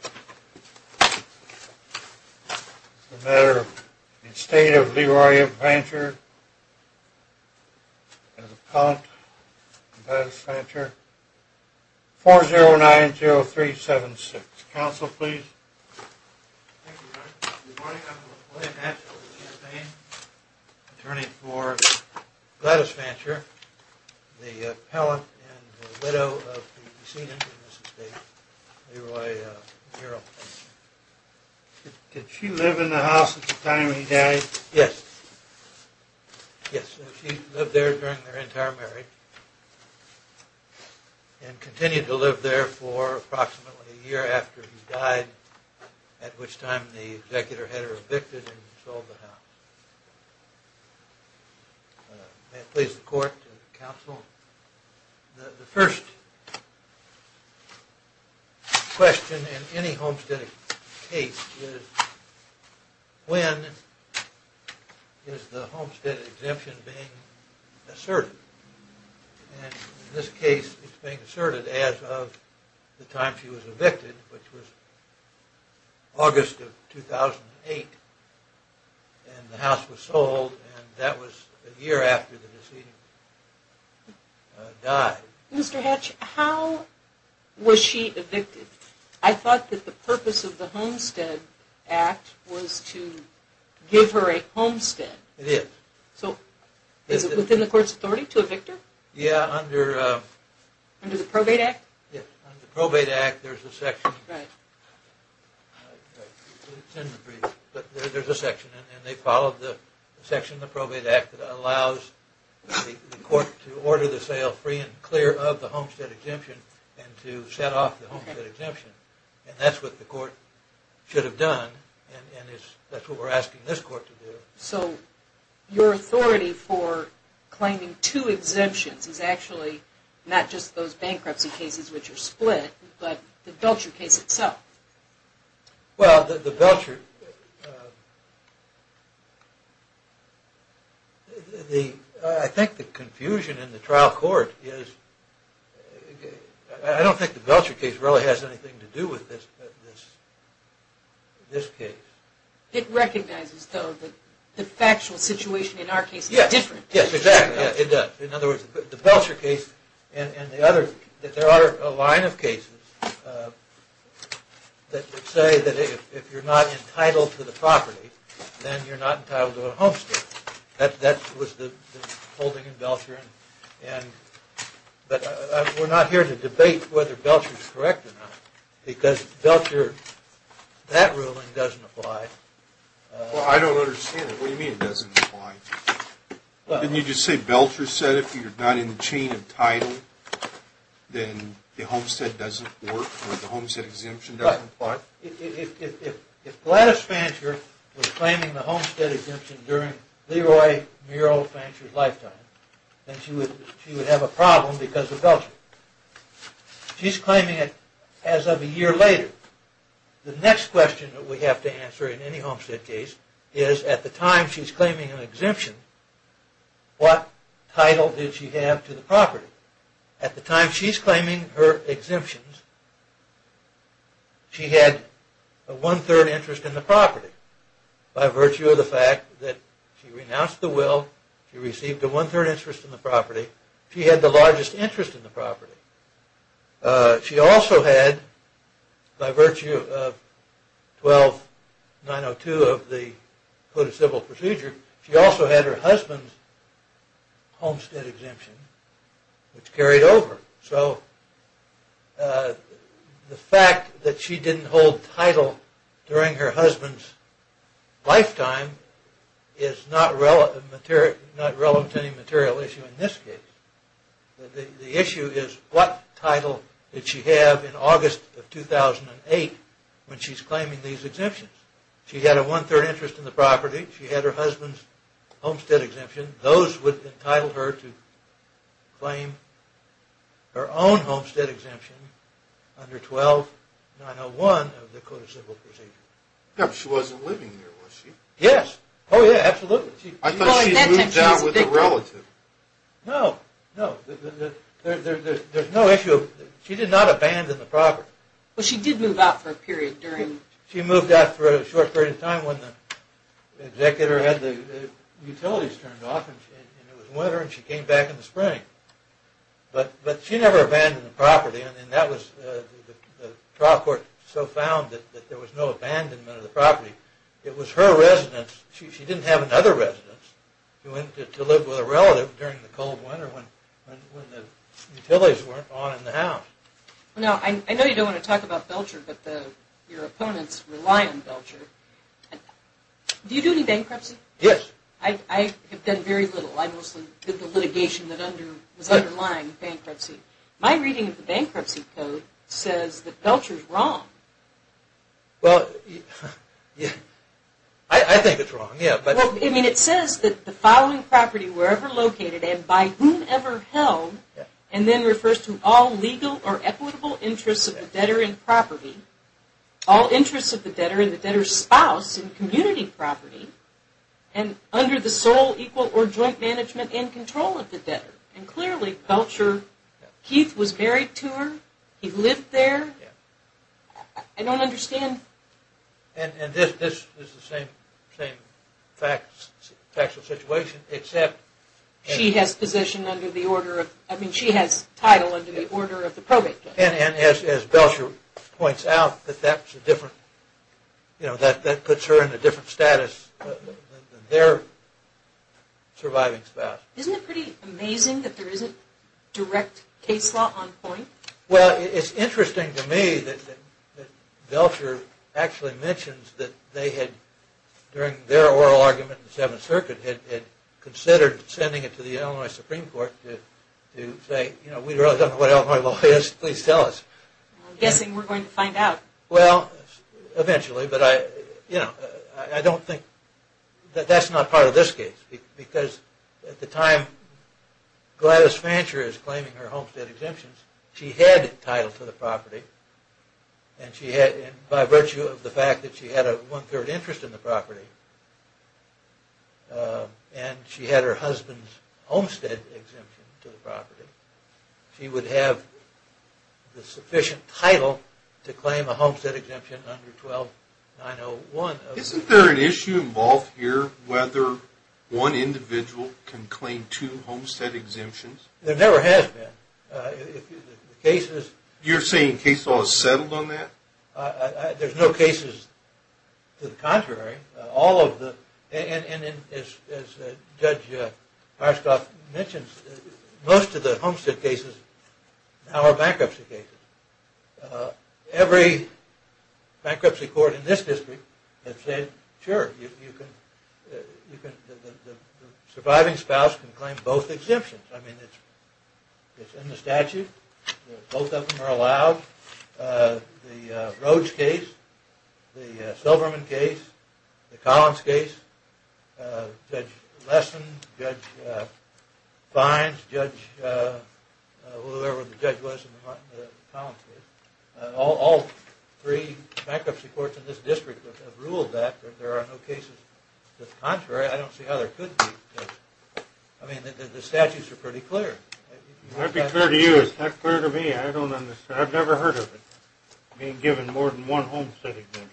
The matter of the Estate of Leroy Fancher and the Appellant Gladys Fancher, 4090376. Counsel, please. Thank you, Your Honor. Good morning. I'm William Hatch. I'm the campaign attorney for Gladys Fancher, the appellant and the widow of the decedent of this estate, Leroy Fancher. Did she live in the house at the time he died? Yes. Yes, she lived there during their entire marriage and continued to live there for approximately a year after he died, at which time the executor had her evicted and sold the house. May it please the court and counsel. The first question in any homestead case is when is the homestead exemption being asserted? In this case it's being asserted as of the time she was evicted, which was August of 2008 and the house was sold and that was a year after the decedent died. Mr. Hatch, how was she evicted? I thought that the purpose of the Homestead Act was to give her a homestead. It is. So is it within the court's authority to evict her? Under the Probate Act? Under the Probate Act there's a section that allows the court to order the sale free and clear of the homestead exemption and to set off the homestead exemption. And that's what the court should have done and that's what we're asking this court to do. So your authority for claiming two exemptions is actually not just those bankruptcy cases which are split but the Belcher case itself? Well the Belcher, I think the confusion in the trial court is, I don't think the Belcher case really has anything to do with this case. It recognizes though that the factual situation in our case is different. Yes, exactly. In other words, the Belcher case and the other, there are a line of cases that say that if you're not entitled to the property then you're not entitled to a homestead. That was the holding in Belcher. But we're not here to debate whether Belcher is correct or not because Belcher, that ruling doesn't apply. Well, I don't understand it. What do you mean it doesn't apply? Didn't you just say Belcher said if you're not in the chain of title then the homestead doesn't work or the homestead exemption doesn't apply? If Gladys Fancher was claiming the homestead exemption during Leroy Mural Fancher's lifetime then she would have a problem because of Belcher. She's claiming it as of a year later. The next question that we have to answer in any homestead case is at the time she's claiming an exemption, what title did she have to the property? At the time she's claiming her exemptions, she had a one-third interest in the property by virtue of the fact that she renounced the will, she received a one-third interest in the property, she had the largest interest in the property. She also had, by virtue of 12902 of the Code of Civil Procedure, she also had her husband's homestead exemption which carried over. So the fact that she didn't hold title during her husband's lifetime is not relevant to any material issue in this case. The issue is what title did she have in August of 2008 when she's claiming these exemptions? She had a one-third interest in the property, she had her husband's homestead exemption, those would entitle her to claim her own homestead exemption under 12901 of the Code of Civil Procedure. She wasn't living there was she? Yes, oh yeah, absolutely. I thought she had moved out with a relative. No, no, there's no issue. She did not abandon the property. Well she did move out for a period during... She moved out for a short period of time when the executor had the utilities turned off and it was winter and she came back in the spring. But she never abandoned the property and that was the trial court so found that there was no abandonment of the property. It was her residence, she didn't have another residence, she went to live with a relative during the cold winter when the utilities weren't on in the house. Now I know you don't want to talk about Belcher but your opponents rely on Belcher. Do you do any bankruptcy? Yes. I have done very little. I mostly did the litigation that was underlying bankruptcy. My reading of the bankruptcy code says that Belcher is wrong. Well, I think it's wrong, yeah. I mean it says that the following property wherever located and by whomever held and then refers to all legal or equitable interests of the debtor in property. All interests of the debtor and the debtor's spouse in community property and under the sole equal or joint management and control of the debtor. And clearly Belcher, Keith was married to her, he lived there. I don't understand. And this is the same factual situation except... She has title under the order of the probate court. And as Belcher points out that puts her in a different status than their surviving spouse. Isn't it pretty amazing that there isn't direct case law on point? Well, it's interesting to me that Belcher actually mentions that they had, during their oral argument in the 7th Circuit, had considered sending it to the Illinois Supreme Court to say, you know, we really don't know what Illinois law is, please tell us. I'm guessing we're going to find out. Well, eventually, but I, you know, I don't think, that's not part of this case. Because at the time Gladys Fancher is claiming her homestead exemptions, she had title to the property. And she had, by virtue of the fact that she had a one-third interest in the property, and she had her husband's homestead exemption to the property, she would have the sufficient title to claim a homestead exemption under 12901. Isn't there an issue involved here whether one individual can claim two homestead exemptions? There never has been. You're saying case law is settled on that? There's no cases to the contrary. All of the, and as Judge Harstoff mentions, most of the homestead cases are bankruptcy cases. Every bankruptcy court in this district has said, sure, you can, the surviving spouse can claim both exemptions. I mean, it's in the statute. Both of them are allowed. The Roach case, the Silverman case, the Collins case, Judge Lessen, Judge Fines, whoever the judge was in the Collins case. All three bankruptcy courts in this district have ruled that there are no cases to the contrary. I don't see how there could be. I mean, the statutes are pretty clear. I'd be clear to you. It's not clear to me. I don't understand. I've never heard of it, being given more than one homestead exemption.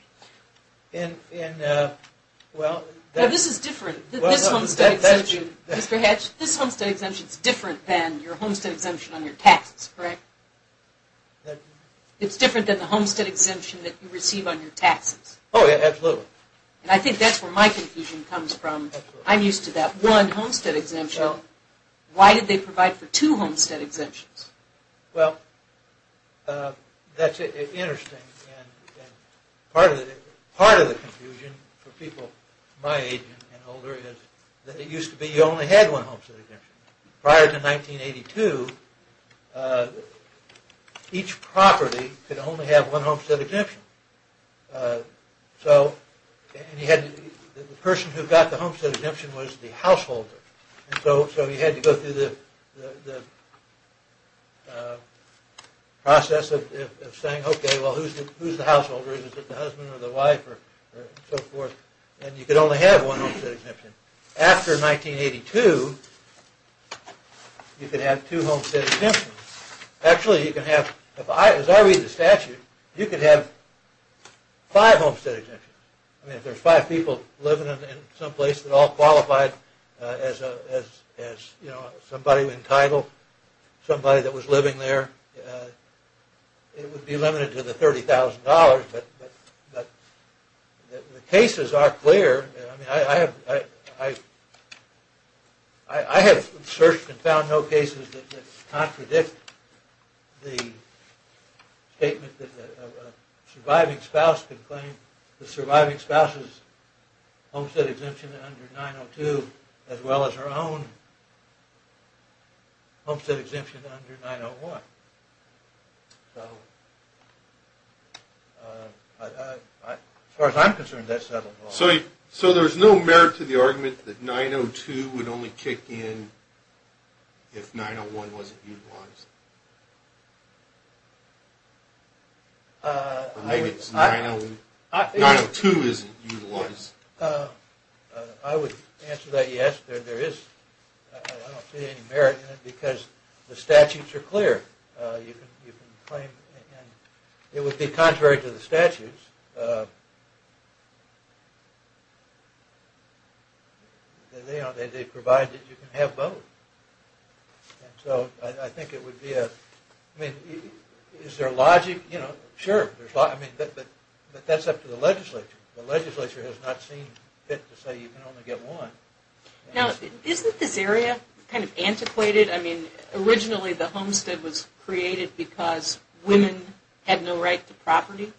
Well, this is different. This homestead exemption, Mr. Hatch, this homestead exemption is different than your homestead exemption on your taxes, correct? It's different than the homestead exemption that you receive on your taxes. Oh, yeah, absolutely. And I think that's where my confusion comes from. I'm used to that one homestead exemption. Why did they provide for two homestead exemptions? Well, that's interesting. Part of the confusion for people my age and older is that it used to be you only had one homestead exemption. Prior to 1982, each property could only have one homestead exemption. So the person who got the homestead exemption was the householder. So you had to go through the process of saying, okay, well, who's the householder? Is it the husband or the wife or so forth? And you could only have one homestead exemption. After 1982, you could have two homestead exemptions. Actually, as I read the statute, you could have five homestead exemptions. I mean, if there's five people living in some place that all qualified as somebody entitled, somebody that was living there, it would be limited to the $30,000, but the cases are clear. I have searched and found no cases that contradict the statement that a surviving spouse can claim the surviving spouse's homestead exemption under 902 as well as her own homestead exemption under 901. So as far as I'm concerned, that's settled. So there's no merit to the argument that 902 would only kick in if 901 wasn't utilized? Or maybe it's 902 isn't utilized? I would answer that yes, there is. I don't see any merit in it because the statutes are clear. It would be contrary to the statutes. They provide that you can have both. So I think it would be a... Is there logic? Sure, but that's up to the legislature. The legislature has not seen fit to say you can only get one. Now, isn't this area kind of antiquated? I mean, originally the homestead was created because women had no right to property.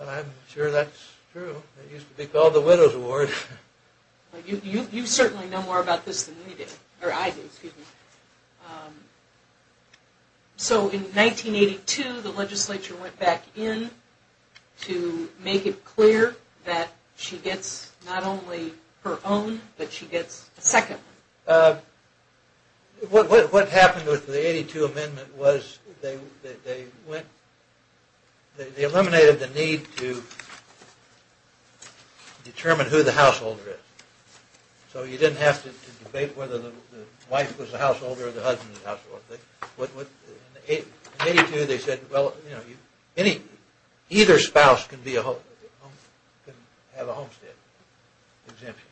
I'm sure that's true. It used to be called the widow's ward. You certainly know more about this than I do. So in 1982, the legislature went back in to make it clear that she gets not only her own, but she gets a second one. What happened with the 1982 amendment was they eliminated the need to determine who the householder is. So you didn't have to debate whether the wife was the householder or the husband was the householder. In 1982 they said either spouse can have a homestead exemption.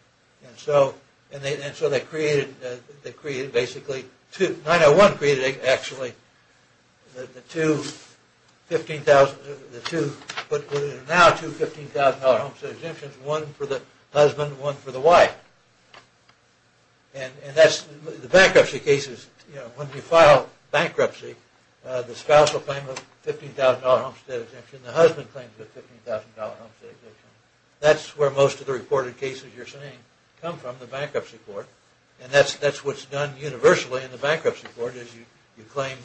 And so they created basically... 901 created actually the two $15,000... But there are now two $15,000 homestead exemptions. One for the husband, one for the wife. And that's the bankruptcy cases. When you file bankruptcy, the spouse will claim a $15,000 homestead exemption. The husband claims a $15,000 homestead exemption. That's where most of the reported cases you're seeing come from, the bankruptcy court. And that's what's done universally in the bankruptcy court. You claim...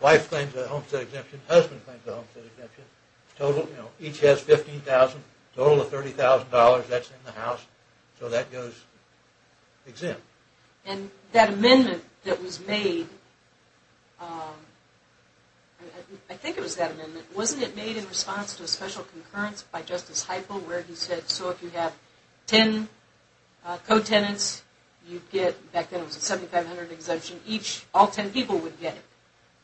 Wife claims a homestead exemption, husband claims a homestead exemption. Each has $15,000, total of $30,000, that's in the house. So that goes exempt. And that amendment that was made... I think it was that amendment. Wasn't it made in response to a special concurrence by Justice Heiple where he said, so if you have 10 co-tenants, you get... Back then it was a 7500 exemption. Each, all 10 people would get it.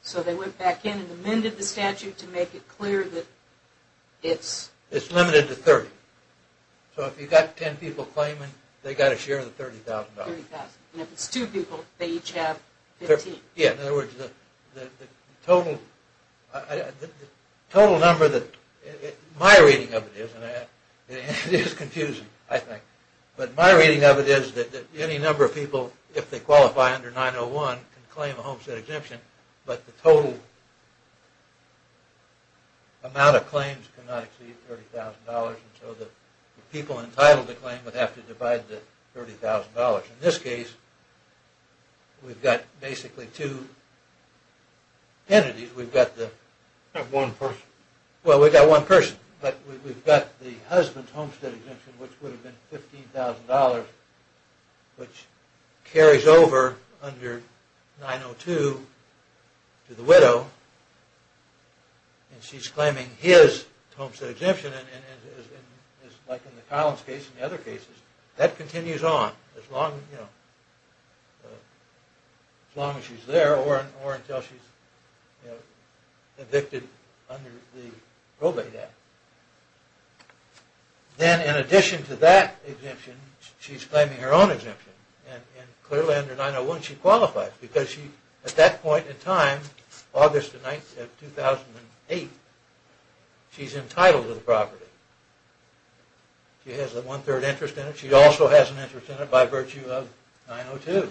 So they went back in and amended the statute to make it clear that it's... It's limited to 30. So if you've got 10 people claiming, they've got to share the $30,000. And if it's two people, they each have 15. Yeah, in other words, the total number that... My reading of it is, and it is confusing, I think, but my reading of it is that any number of people, if they qualify under 901, can claim a homestead exemption, but the total amount of claims cannot exceed $30,000. And so the people entitled to claim would have to divide the $30,000. In this case, we've got basically two entities. We've got the... Not one person. Well, we've got one person, but we've got the husband's homestead exemption, which would have been $15,000, which carries over under 902 to the widow, and she's claiming his homestead exemption, like in the Collins case and the other cases, that continues on as long as she's there or until she's evicted under the Probate Act. Then in addition to that exemption, she's claiming her own exemption, and clearly under 901 she qualifies, because at that point in time, August the 9th of 2008, she's entitled to the property. She has a one-third interest in it. She also has an interest in it by virtue of 902.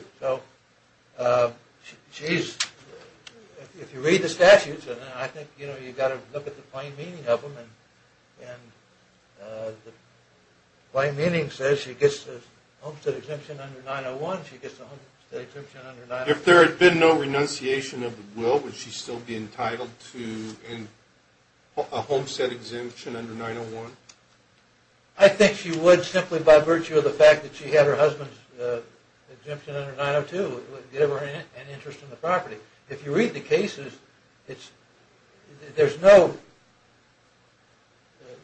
If you read the statutes, I think you've got to look at the plain meaning of them. The plain meaning says she gets the homestead exemption under 901. She gets the homestead exemption under 902. If there had been no renunciation of the will, would she still be entitled to a homestead exemption under 901? I think she would, simply by virtue of the fact that she had her husband's exemption under 902. It would give her an interest in the property. If you read the cases, there's no…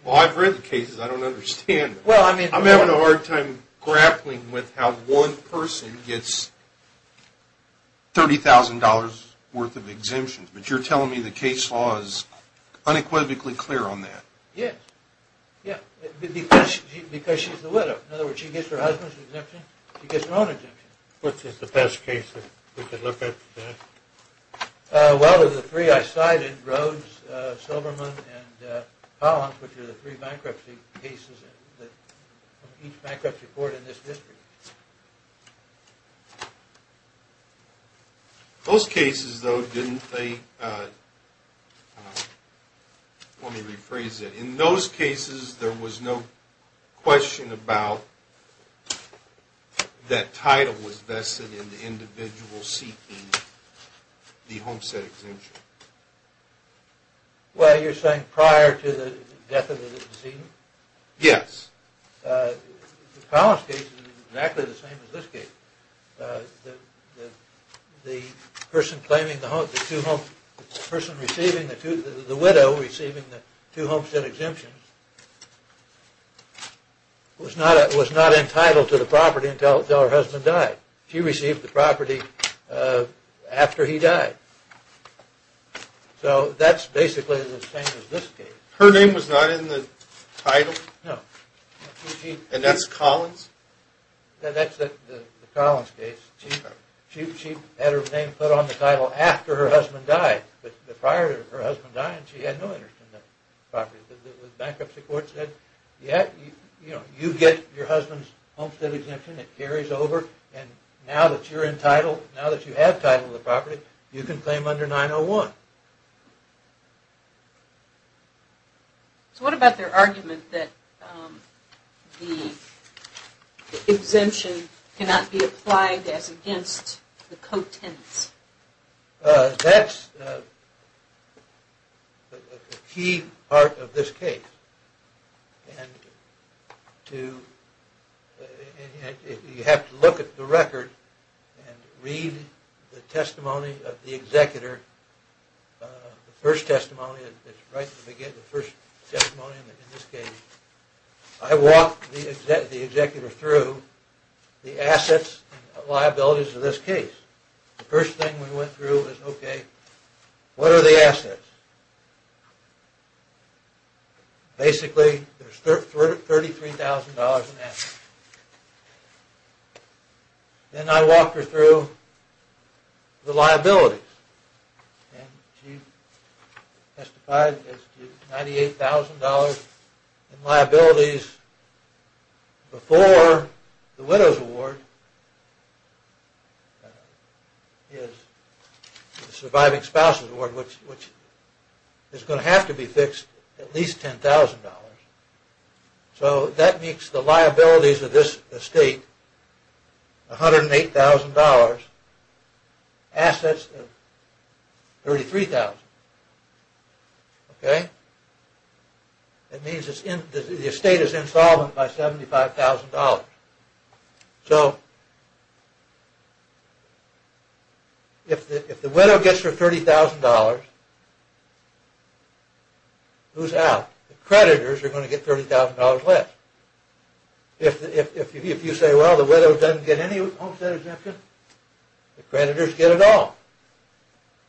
Well, I've read the cases. I don't understand them. I'm having a hard time grappling with how one person gets $30,000 worth of exemptions, but you're telling me the case law is unequivocally clear on that. Yes, because she's the widow. In other words, she gets her husband's exemption. She gets her own exemption. Which is the best case that we could look at? Well, there's the three I cited, Rhodes, Silverman, and Collins, which are the three bankruptcy cases in each bankruptcy court in this district. Those cases, though, didn't they… Let me rephrase it. In those cases, there was no question about that title was vested in the individual seeking the homestead exemption. Well, you're saying prior to the death of the decedent? Yes. The Collins case is exactly the same as this case. The person receiving, the widow receiving the two homestead exemptions was not entitled to the property until her husband died. She received the property after he died. So that's basically the same as this case. Her name was not in the title? No. And that's Collins? That's the Collins case. She had her name put on the title after her husband died. But prior to her husband dying, she had no interest in the property. The bankruptcy court said, yes, you get your husband's homestead exemption. It carries over. And now that you're entitled, now that you have titled the property, you can claim under 901. So what about their argument that the exemption cannot be applied as against the co-tenants? That's a key part of this case. And you have to look at the record and read the testimony of the executor. The first testimony is right at the beginning, the first testimony in this case. I walked the executor through the assets and liabilities of this case. The first thing we went through was, okay, what are the assets? Basically, there's $33,000 in assets. Then I walked her through the liabilities. And she testified as to $98,000 in liabilities. Before the widow's award is the surviving spouse's award, which is going to have to be fixed, at least $10,000. So that makes the liabilities of this estate $108,000. Assets of $33,000. Okay? That means the estate is insolvent by $75,000. So if the widow gets her $30,000, who's out? The creditors are going to get $30,000 less. If you say, well, the widow doesn't get any homestead exemption, the creditors get it all.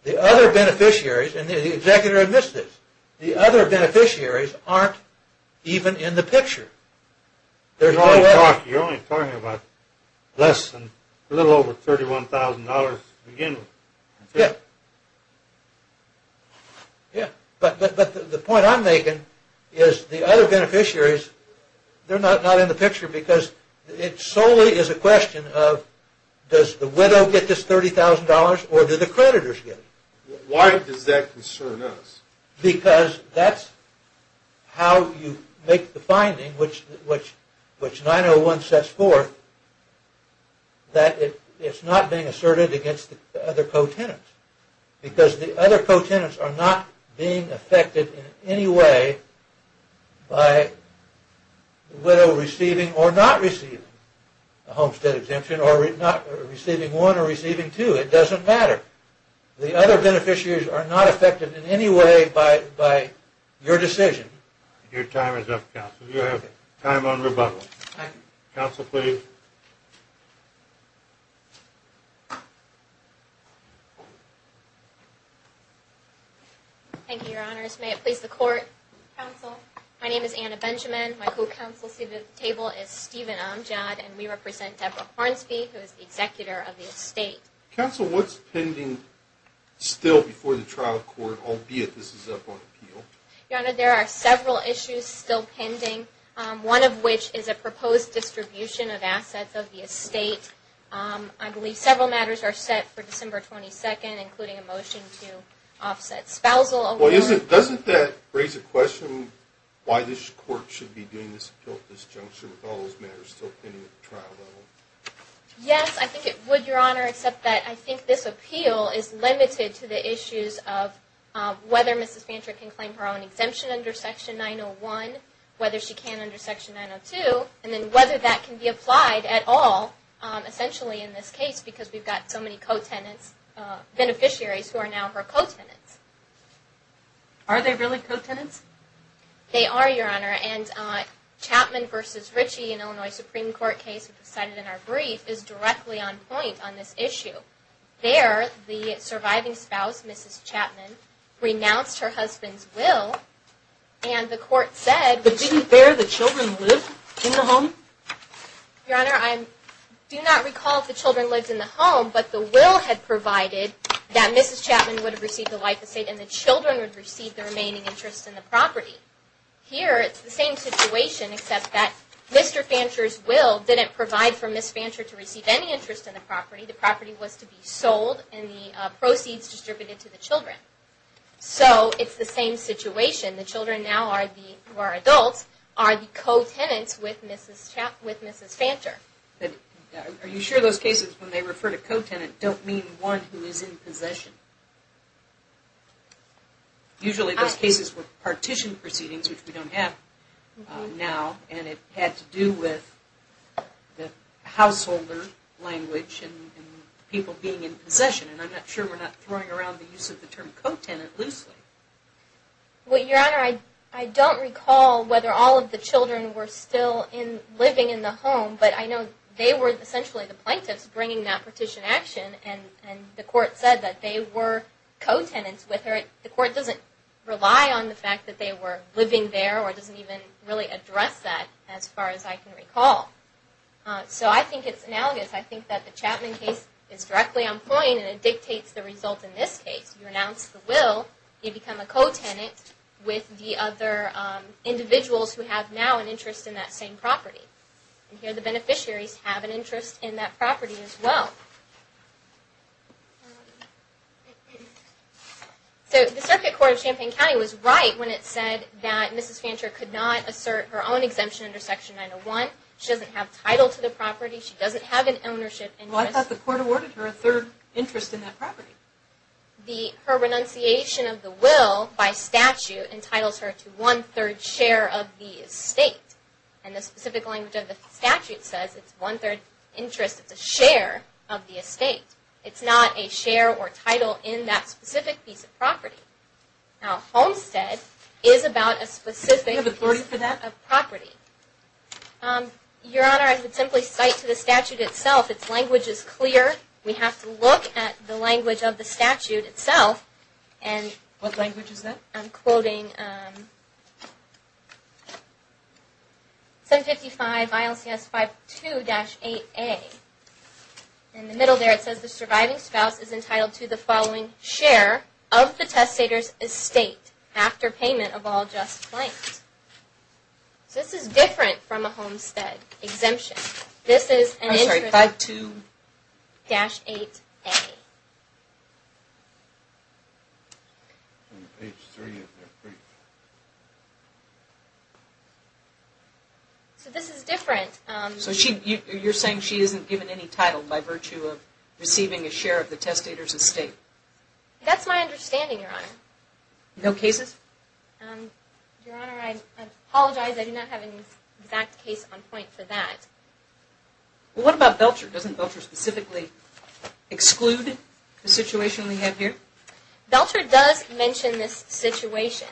The other beneficiaries, and the executor admits this, the other beneficiaries aren't even in the picture. You're only talking about less than a little over $31,000 to begin with. Yeah. Yeah. But the point I'm making is the other beneficiaries, they're not in the picture because it solely is a question of, does the widow get this $30,000 or do the creditors get it? Why does that concern us? Because that's how you make the finding, which 901 sets forth, that it's not being asserted against the other co-tenants. Because the other co-tenants are not being affected in any way by the widow receiving or not receiving a homestead exemption, or receiving one or receiving two. It doesn't matter. The other beneficiaries are not affected in any way by your decision. Your time is up, counsel. You have time on rebuttal. Counsel, please. Thank you, Your Honors. May it please the Court. Counsel, my name is Anna Benjamin. My co-counsel seated at the table is Stephen Amjad, and we represent Deborah Hornsby, who is the executor of the estate. Counsel, what's pending still before the trial court, albeit this is up on appeal? Your Honor, there are several issues still pending, one of which is a proposed distribution of assets of the estate. I believe several matters are set for December 22nd, including a motion to offset spousal. Doesn't that raise a question why this Court should be doing this at this juncture with all those matters still pending at the trial level? Yes, I think it would, Your Honor, except that I think this appeal is limited to the issues of whether Mrs. Chapman and Mr. Ritchie can under Section 902, and then whether that can be applied at all essentially in this case because we've got so many co-tenants, beneficiaries who are now her co-tenants. Are they really co-tenants? They are, Your Honor, and Chapman v. Ritchie in Illinois Supreme Court case cited in our brief is directly on point on this issue. There, the surviving spouse, Mrs. Chapman, renounced her husband's will, and the Court said... But didn't there the children live in the home? Your Honor, I do not recall if the children lived in the home, but the will had provided that Mrs. Chapman would have received the life estate and the children would receive the remaining interest in the property. Here, it's the same situation, except that Mr. Fancher's will didn't provide for Ms. Fancher to receive any interest in the property. The property was to be sold and the proceeds distributed to the children. So, it's the same situation. The children now, who are adults, are the co-tenants with Mrs. Fancher. Are you sure those cases when they refer to co-tenant don't mean one who is in possession? Usually those cases were partition proceedings, which we don't have now, and it had to do with the householder language and people being in possession. And I'm not sure we're not throwing around the use of the term co-tenant loosely. Well, Your Honor, I don't recall whether all of the children were still living in the home, but I know they were essentially the plaintiffs bringing that partition action, and the Court said that they were co-tenants with her. The Court doesn't rely on the fact that they were living there or doesn't even really address that, as far as I can recall. So, I think it's analogous. I think that the Chapman case is directly on point, and it dictates the result in this case. You renounce the will, you become a co-tenant with the other individuals who have now an interest in that same property. And here the beneficiaries have an interest in that property as well. So, the Circuit Court of Champaign County was right when it said that Mrs. Fancher could not assert her own exemption under Section 901. She doesn't have title to the property. She doesn't have an ownership interest. Well, I thought the Court awarded her a third interest in that property. Her renunciation of the will by statute entitles her to one-third share of the estate. And the specific language of the statute says it's one-third interest. It's a share of the estate. It's not a share or title in that specific piece of property. Now, Homestead is about a specific piece of property. Do you have authority for that? Your Honor, I would simply cite to the statute itself. Its language is clear. We have to look at the language of the statute itself. What language is that? I'm quoting 755 ILCS 52-8A. In the middle there it says the surviving spouse is entitled to the following share of the testator's estate after payment of all just claims. This is different from a Homestead exemption. This is an interest. I'm sorry, 52-8A. So this is different. So you're saying she isn't given any title by virtue of receiving a share of the testator's estate. That's my understanding, Your Honor. No cases? Your Honor, I apologize. I do not have an exact case on point for that. Well, what about Belcher? Doesn't Belcher specifically exclude the situation we have here? Belcher does mention this situation.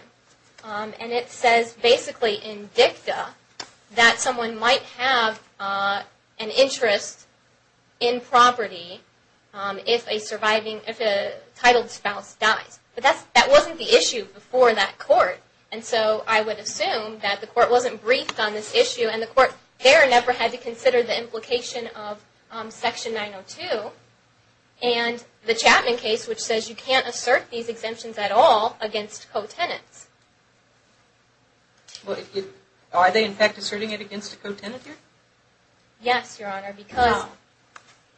And it says basically in dicta that someone might have an interest in property if a titled spouse dies. But that wasn't the issue before that court. And so I would assume that the court wasn't briefed on this issue and the court there never had to consider the implication of Section 902 and the Chapman case which says you can't assert these exemptions at all against co-tenants. Are they in fact asserting it against a co-tenant here? Yes, Your Honor,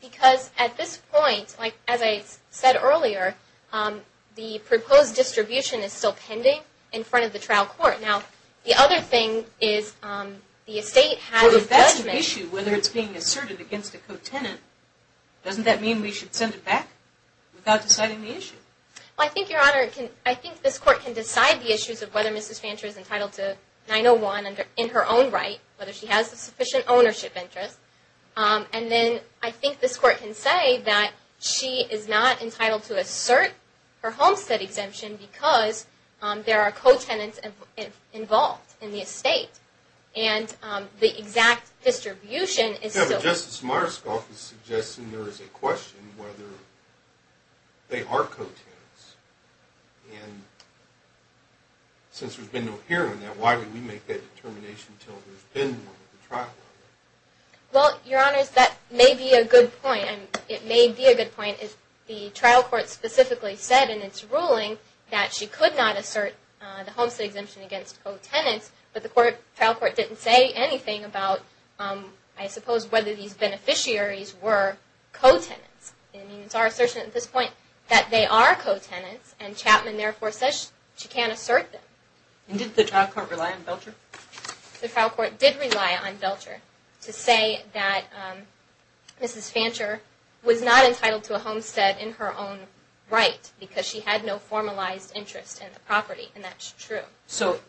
because at this point, as I said earlier, the proposed distribution is still pending in front of the trial court. Now, the other thing is the estate has a judgment. Well, if that's an issue, whether it's being asserted against a co-tenant, doesn't that mean we should send it back without deciding the issue? Well, I think, Your Honor, I think this court can decide the issues of whether Mrs. Fancher is entitled to 901 in her own right, whether she has a sufficient ownership interest. And then I think this court can say that she is not entitled to assert her homestead exemption because there are co-tenants involved in the estate. And the exact distribution is still pending. Justice Myerscough is suggesting there is a question whether they are co-tenants. Why would we make that determination until there's been one at the trial court? Well, Your Honor, that may be a good point. It may be a good point if the trial court specifically said in its ruling that she could not assert the homestead exemption against co-tenants, but the trial court didn't say anything about, I suppose, whether these beneficiaries were co-tenants. It's our assertion at this point that they are co-tenants, and Chapman therefore says she can't assert them. And did the trial court rely on Belcher? The trial court did rely on Belcher to say that Mrs. Fancher was not entitled to a homestead in her own right because she had no formalized interest in the property, and that's true. So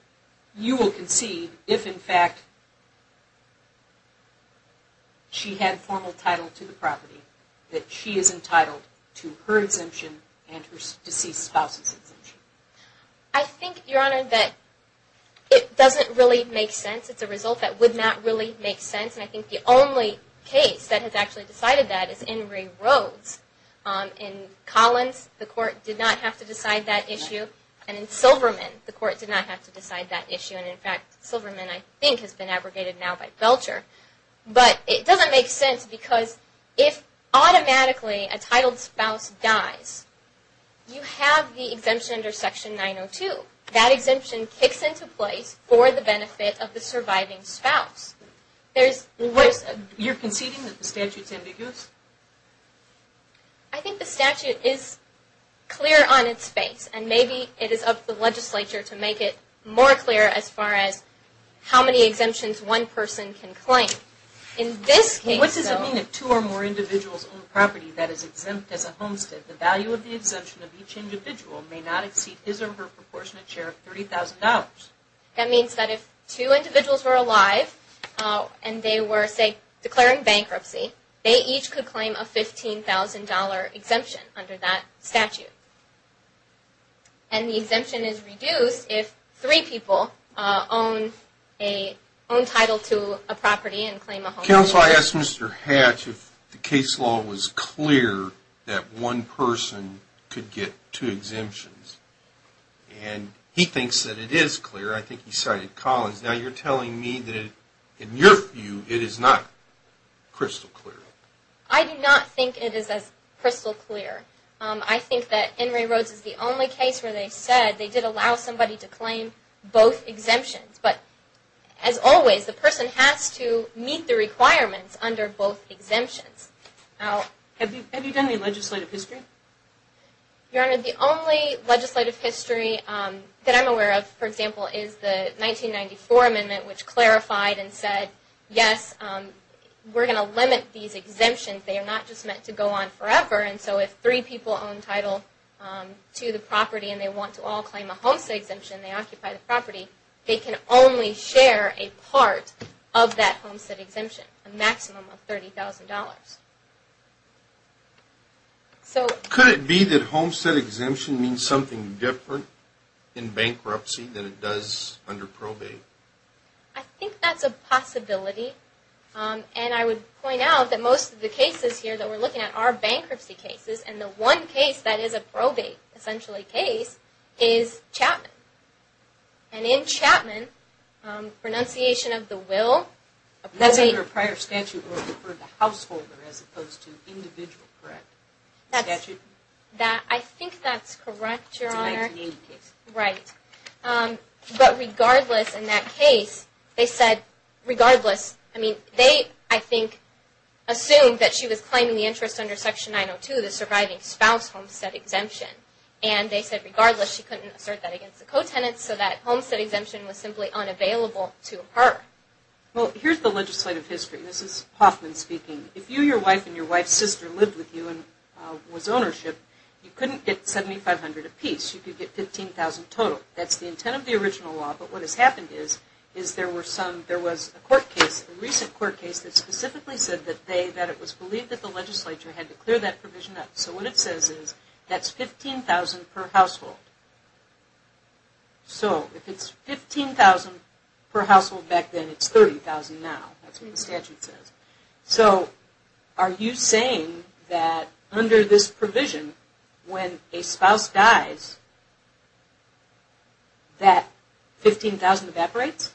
you will concede if, in fact, she had formal title to the property, that she is entitled to her exemption and her deceased spouse's exemption? I think, Your Honor, that it doesn't really make sense. It's a result that would not really make sense, and I think the only case that has actually decided that is in Ray Rhodes. In Collins, the court did not have to decide that issue, and in Silverman, the court did not have to decide that issue, and in fact, Silverman, I think, has been abrogated now by Belcher. But it doesn't make sense because if automatically a titled spouse dies, you have the exemption under Section 902. That exemption kicks into place for the benefit of the surviving spouse. You're conceding that the statute is ambiguous? I think the statute is clear on its face, and maybe it is up to the legislature to make it more clear as far as how many exemptions one person can claim. What does it mean if two or more individuals own property that is exempt as a homestead? The value of the exemption of each individual may not exceed his or her proportionate share of $30,000. That means that if two individuals were alive and they were, say, declaring bankruptcy, they each could claim a $15,000 exemption under that statute. And the exemption is reduced if three people own title to a property and claim a home. Counsel, I asked Mr. Hatch if the case law was clear that one person could get two exemptions, and he thinks that it is clear. I think he cited Collins. Now you're telling me that in your view it is not crystal clear. I do not think it is as crystal clear. I think that In re Rhodes is the only case where they said they did allow somebody to claim both exemptions. But as always, the person has to meet the requirements under both exemptions. Have you done any legislative history? Your Honor, the only legislative history that I'm aware of, for example, is the 1994 amendment which clarified and said, yes, we're going to limit these exemptions. They are not just meant to go on forever. And so if three people own title to the property and they want to all claim a homestead exemption and they occupy the property, they can only share a part of that homestead exemption, a maximum of $30,000. Could it be that homestead exemption means something different in bankruptcy than it does under probate? I think that's a possibility. And I would point out that most of the cases here that we're looking at are bankruptcy cases, and the one case that is a probate, essentially, case is Chapman. And in Chapman, renunciation of the will. That's under a prior statute or referred to householder as opposed to individual, correct? I think that's correct, Your Honor. It's a 1980 case. Right. But regardless, in that case, they said, regardless, I mean, they, I think, assumed that she was claiming the interest under Section 902, the surviving spouse homestead exemption. And they said, regardless, she couldn't assert that against the cotenants, so that homestead exemption was simply unavailable to her. Well, here's the legislative history. This is Hoffman speaking. If you, your wife, and your wife's sister lived with you and was ownership, you couldn't get $7,500 apiece. You could get $15,000 total. That's the intent of the original law. But what has happened is, is there were some, there was a court case, a recent court case, that specifically said that they, that it was believed that the legislature had to clear that provision up. So what it says is, that's $15,000 per household. So if it's $15,000 per household back then, it's $30,000 now. That's what the statute says. So are you saying that under this provision, when a spouse dies, that $15,000 evaporates?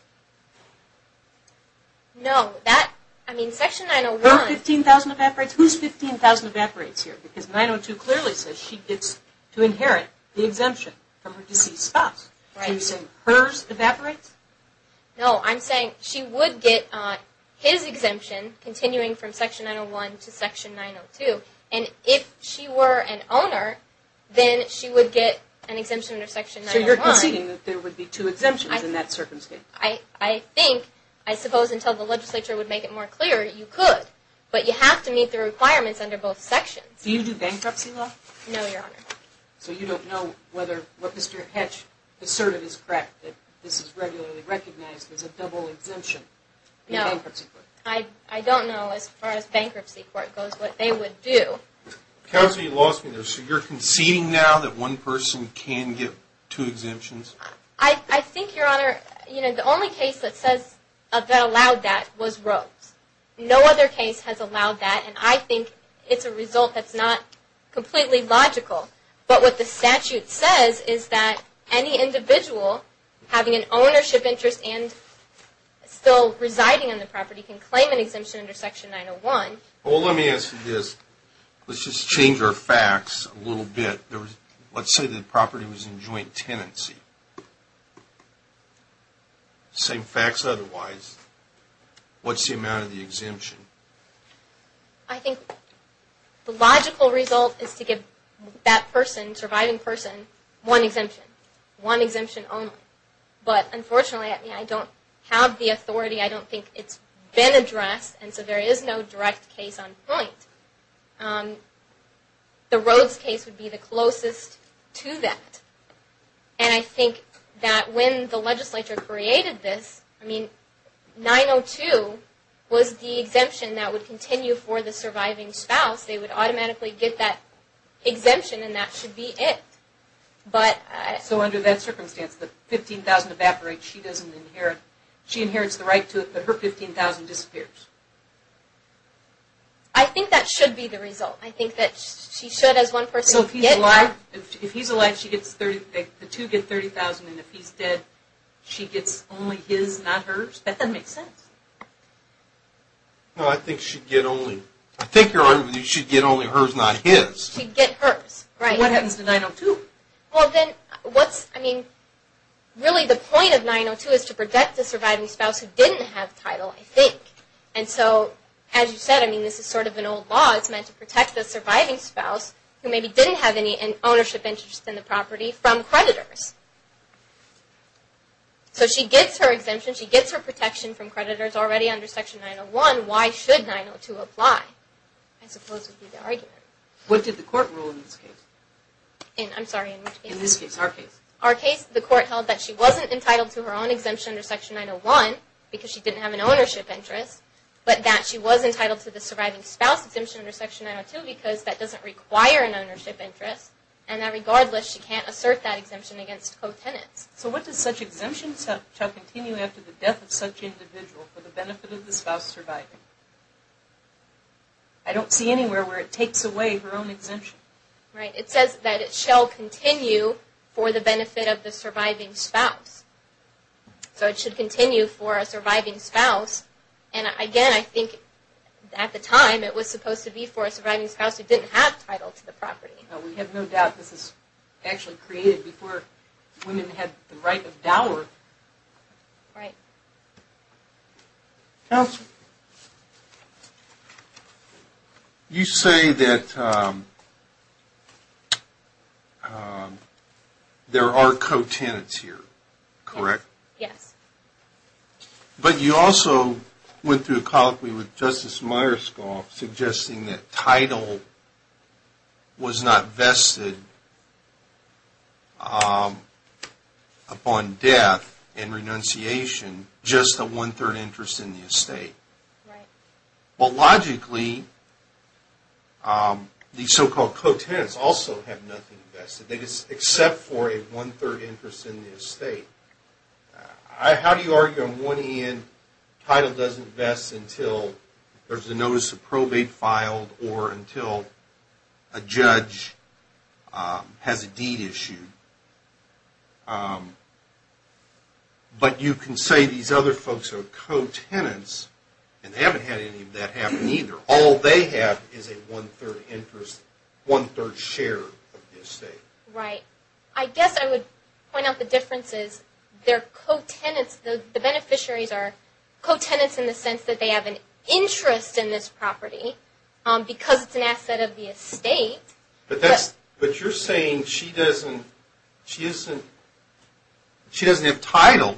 No. That, I mean, Section 901. $15,000 evaporates? Whose $15,000 evaporates here? Because 902 clearly says she gets to inherit the exemption from her deceased spouse. Are you saying hers evaporates? No. I'm saying she would get his exemption, continuing from Section 901 to Section 902. And if she were an owner, then she would get an exemption under Section 901. So you're conceding that there would be two exemptions in that circumstance? I think, I suppose until the legislature would make it more clear, you could. But you have to meet the requirements under both sections. Do you do bankruptcy law? No, Your Honor. So you don't know whether what Mr. Hetch asserted is correct, that this is regularly recognized as a double exemption in bankruptcy court? No. I don't know, as far as bankruptcy court goes, what they would do. Counsel, you lost me there. So you're conceding now that one person can get two exemptions? I think, Your Honor, you know, the only case that says, that allowed that was Rose. No other case has allowed that. And I think it's a result that's not completely logical. But what the statute says is that any individual having an ownership interest and still residing on the property can claim an exemption under Section 901. Well, let me ask you this. Let's just change our facts a little bit. Let's say the property was in joint tenancy. Same facts otherwise. What's the amount of the exemption? I think the logical result is to give that person, surviving person, one exemption. One exemption only. But, unfortunately, I don't have the authority. I don't think it's been addressed. And so there is no direct case on point. The Rose case would be the closest to that. And I think that when the legislature created this, I mean, 902 was the exemption that would continue for the surviving spouse. They would automatically get that exemption, and that should be it. So under that circumstance, the $15,000 evaporates. She inherits the right to it, but her $15,000 disappears. I think that should be the result. I think that she should, as one person, get it. If he's alive, the two get $30,000. And if he's dead, she gets only his, not hers. I bet that makes sense. No, I think she'd get only hers, not his. She'd get hers. Right. What happens to 902? Really, the point of 902 is to protect the surviving spouse who didn't have title, I think. And so, as you said, I mean, this is sort of an old law. It's meant to protect the surviving spouse who maybe didn't have any ownership interest in the property from creditors. So she gets her exemption. She gets her protection from creditors already under Section 901. Why should 902 apply, I suppose would be the argument. What did the court rule in this case? In, I'm sorry, in which case? In this case, our case. Our case, the court held that she wasn't entitled to her own exemption under Section 901 because she didn't have an ownership interest, but that she was entitled to the surviving spouse exemption under Section 902 because that doesn't require an ownership interest, and that regardless she can't assert that exemption against co-tenants. So what does such exemption shall continue after the death of such individual for the benefit of the spouse surviving? I don't see anywhere where it takes away her own exemption. Right. It says that it shall continue for the benefit of the surviving spouse. So it should continue for a surviving spouse. And, again, I think at the time it was supposed to be for a surviving spouse who didn't have title to the property. We have no doubt this was actually created before women had the right of dower. Right. Counsel? Yes, sir? You say that there are co-tenants here, correct? Yes. But you also went through a colloquy with Justice Myerscough suggesting that title was not vested upon death and renunciation, just a one-third interest in the estate. Right. Well, logically, these so-called co-tenants also have nothing vested, except for a one-third interest in the estate. How do you argue on one hand title doesn't vest until there's a notice of probate filed or until a judge has a deed issued? But you can say these other folks are co-tenants, and they haven't had any of that happen either. All they have is a one-third share of the estate. Right. I guess I would point out the difference is their co-tenants, the beneficiaries are co-tenants in the sense that they have an interest in this property, because it's an asset of the estate. But you're saying she doesn't have title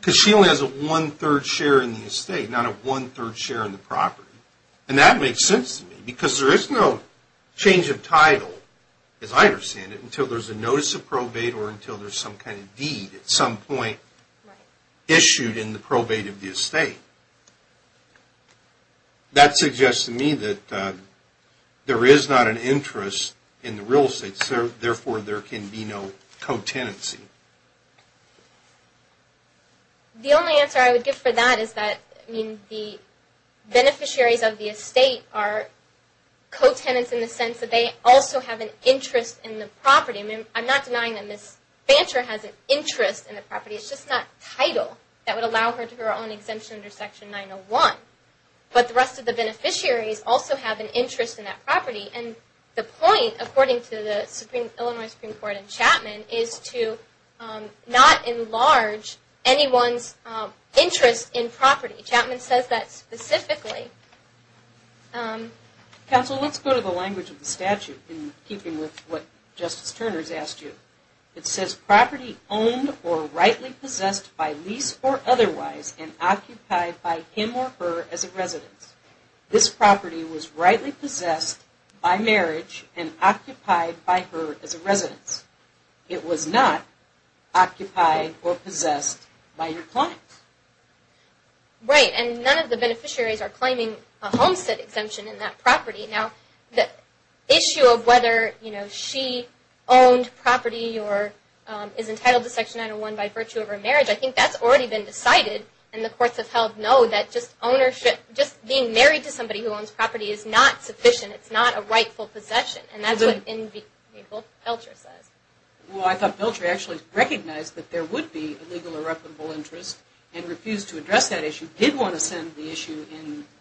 because she only has a one-third share in the estate, not a one-third share in the property. And that makes sense to me because there is no change of title, as I understand it, until there's a notice of probate or until there's some kind of deed at some point issued in the probate of the estate. That suggests to me that there is not an interest in the real estate, so therefore there can be no co-tenancy. The only answer I would give for that is that the beneficiaries of the estate are co-tenants in the sense that they also have an interest in the property. I'm not denying that Ms. Bancher has an interest in the property. It's just not title that would allow her to have her own exemption under Section 901. But the rest of the beneficiaries also have an interest in that property. And the point, according to the Illinois Supreme Court and Chapman, is to not enlarge anyone's interest in property. Chapman says that specifically. Counsel, let's go to the language of the statute in keeping with what Justice Turner has asked you. It says property owned or rightly possessed by lease or otherwise and occupied by him or her as a residence. This property was rightly possessed by marriage and occupied by her as a residence. It was not occupied or possessed by your client. Right, and none of the beneficiaries are claiming a homestead exemption in that property. Now, the issue of whether she owned property or is entitled to Section 901 by virtue of her marriage, I think that's already been decided. And the courts have held no, that just ownership, just being married to somebody who owns property is not sufficient. It's not a rightful possession. And that's what Belcher says. Well, I thought Belcher actually recognized that there would be a legal irreparable interest and refused to address that issue, did want to send the issue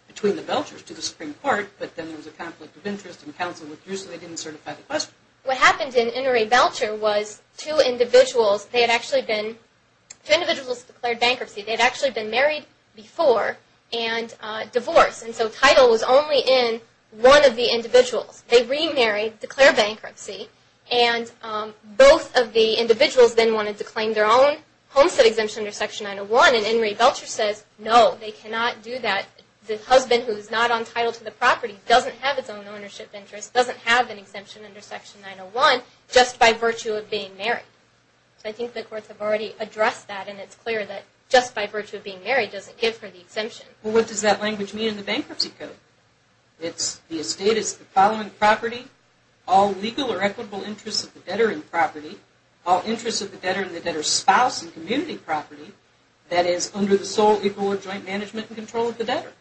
between the Belchers to the Supreme Court, but then there was a conflict of interest and counsel refused so they didn't certify the question. What happened in Inouye Belcher was two individuals, they had actually been, two individuals declared bankruptcy. They had actually been married before and divorced, and so title was only in one of the individuals. They remarried, declared bankruptcy, and both of the individuals then wanted to claim their own homestead exemption under Section 901, and Inouye Belcher says no, they cannot do that. The husband who is not entitled to the property doesn't have its own ownership interest, doesn't have an exemption under Section 901 just by virtue of being married. So I think the courts have already addressed that, and it's clear that just by virtue of being married doesn't give her the exemption. Well, what does that language mean in the Bankruptcy Code? It's, the estate is the following property, all legal or equitable interests of the debtor in the property, all interests of the debtor in the debtor's spouse and community property, that is under the sole equal or joint management and control of the debtor.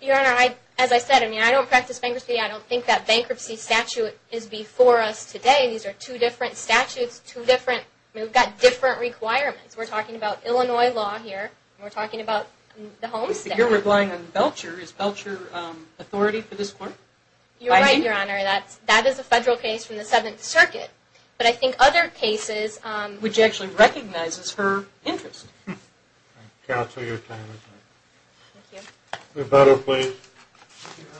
Your Honor, as I said, I don't practice bankruptcy. I don't think that bankruptcy statute is before us today. These are two different statutes, two different, we've got different requirements. We're talking about Illinois law here. We're talking about the homestead. You're relying on Belcher. Is Belcher authority for this court? You're right, Your Honor. That is a federal case from the Seventh Circuit. But I think other cases, which actually recognizes her interest. Counsel, your time is up. Thank you. Roberto, please. Thank you, Your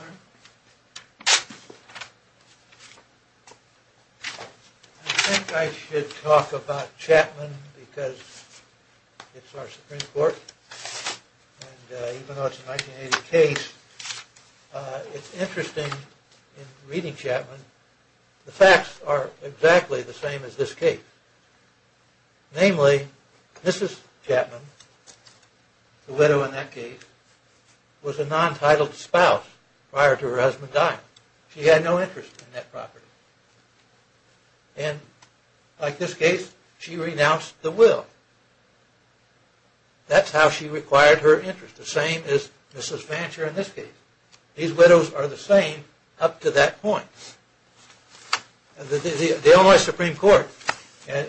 Honor. I think I should talk about Chapman because it's our Supreme Court. And even though it's a 1980 case, it's interesting in reading Chapman, the facts are exactly the same as this case. Namely, Mrs. Chapman, the widow in that case, was a non-titled spouse prior to her husband dying. She had no interest in that property. And like this case, she renounced the will. That's how she required her interest. The same as Mrs. Fancher in this case. These widows are the same up to that point. The Illinois Supreme Court, and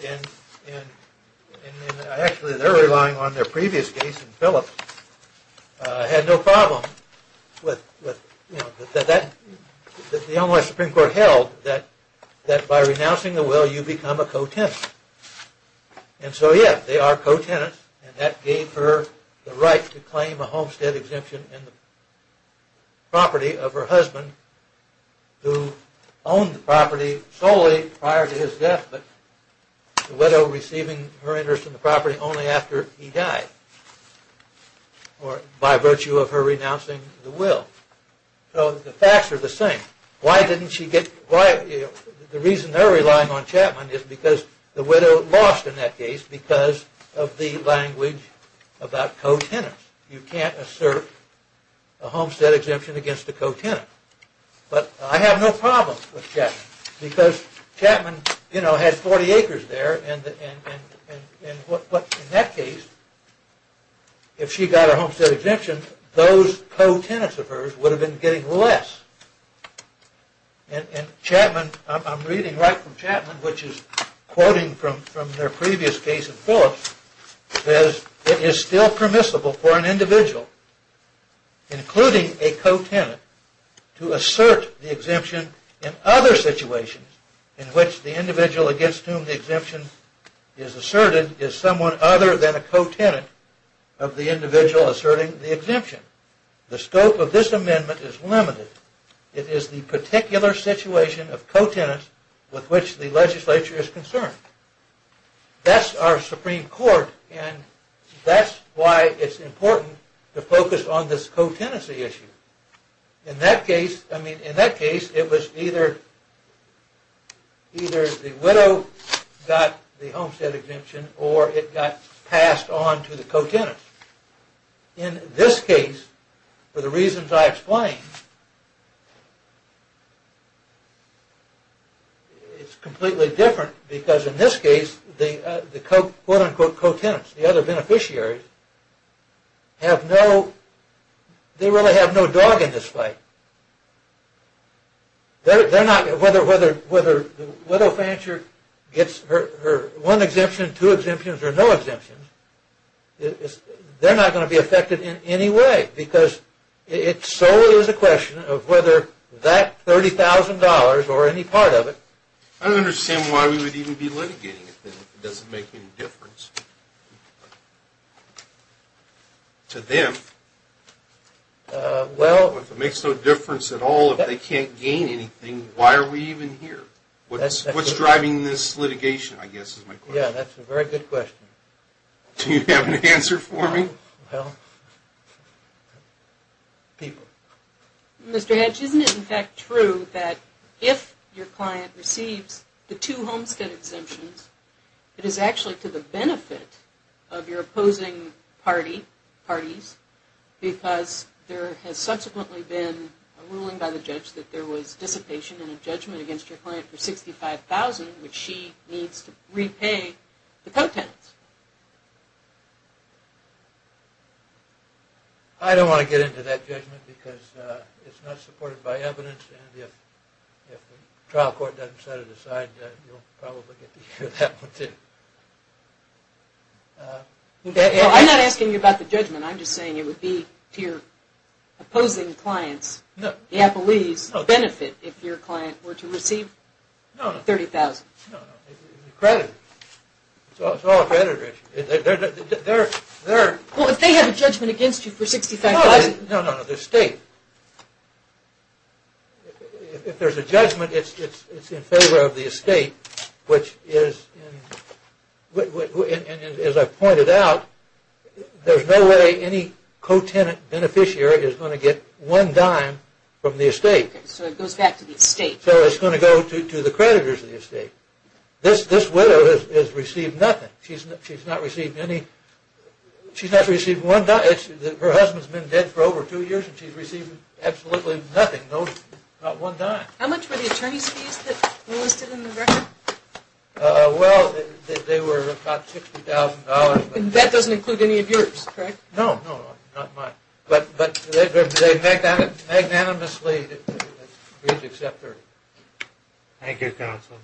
actually they're relying on their previous case in Phillips, had no problem with that. The Illinois Supreme Court held that by renouncing the will, you become a co-tenant. And so, yes, they are co-tenants. And that gave her the right to claim a homestead exemption in the property of her husband, who owned the property solely prior to his death, but the widow receiving her interest in the property only after he died, or by virtue of her renouncing the will. So the facts are the same. Why didn't she get... The reason they're relying on Chapman is because the widow lost in that case because of the language about co-tenants. You can't assert a homestead exemption against a co-tenant. But I have no problem with Chapman, because Chapman has 40 acres there, and in that case, if she got her homestead exemption, those co-tenants of hers would have been getting less. And Chapman, I'm reading right from Chapman, which is quoting from their previous case of Phillips, says, It is still permissible for an individual, including a co-tenant, to assert the exemption in other situations in which the individual against whom the exemption is asserted is someone other than a co-tenant of the individual asserting the exemption. The scope of this amendment is limited. It is the particular situation of co-tenants with which the legislature is concerned. That's our Supreme Court, and that's why it's important to focus on this co-tenancy issue. In that case, I mean, in that case, it was either the widow got the homestead exemption or it got passed on to the co-tenant. In this case, for the reasons I explained, it's completely different because in this case, the quote-unquote co-tenants, the other beneficiaries, have no, they really have no dog in this fight. They're not, whether, whether the widow financier gets her one exemption, two exemptions, or no exemptions, they're not going to be affected in any way because it solely is a question of whether that $30,000 or any part of it. I don't understand why we would even be litigating it then if it doesn't make any difference to them. If it makes no difference at all, if they can't gain anything, then why are we even here? What's driving this litigation, I guess is my question. Yeah, that's a very good question. Do you have an answer for me? Well, people. Mr. Hedges, isn't it in fact true that if your client receives the two homestead exemptions, it is actually to the benefit of your opposing party, parties, because there has subsequently been a ruling by the judge that there was dissipation in a judgment against your client for $65,000, which she needs to repay the co-tenants. I don't want to get into that judgment because it's not supported by evidence and if the trial court doesn't set it aside, you'll probably get to hear that one too. Well, I'm not asking you about the judgment. I'm just saying it would be to your opposing client's benefit if your client were to receive $30,000. No, no, credit. It's all credit. Well, if they have a judgment against you for $65,000. No, no, no, the estate. If there's a judgment, it's in favor of the estate, which is, as I pointed out, there's no way any co-tenant beneficiary is going to get one dime from the estate. So it goes back to the estate. So it's going to go to the creditors of the estate. This widow has received nothing. She's not received any. She's not received one dime. Her husband's been dead for over two years and she's received absolutely nothing, not one dime. How much were the attorney's fees that were listed in the record? Well, they were about $60,000. That doesn't include any of yours, correct? No, no, not mine. But they magnanimously agreed to accept her. Thank you, counsel.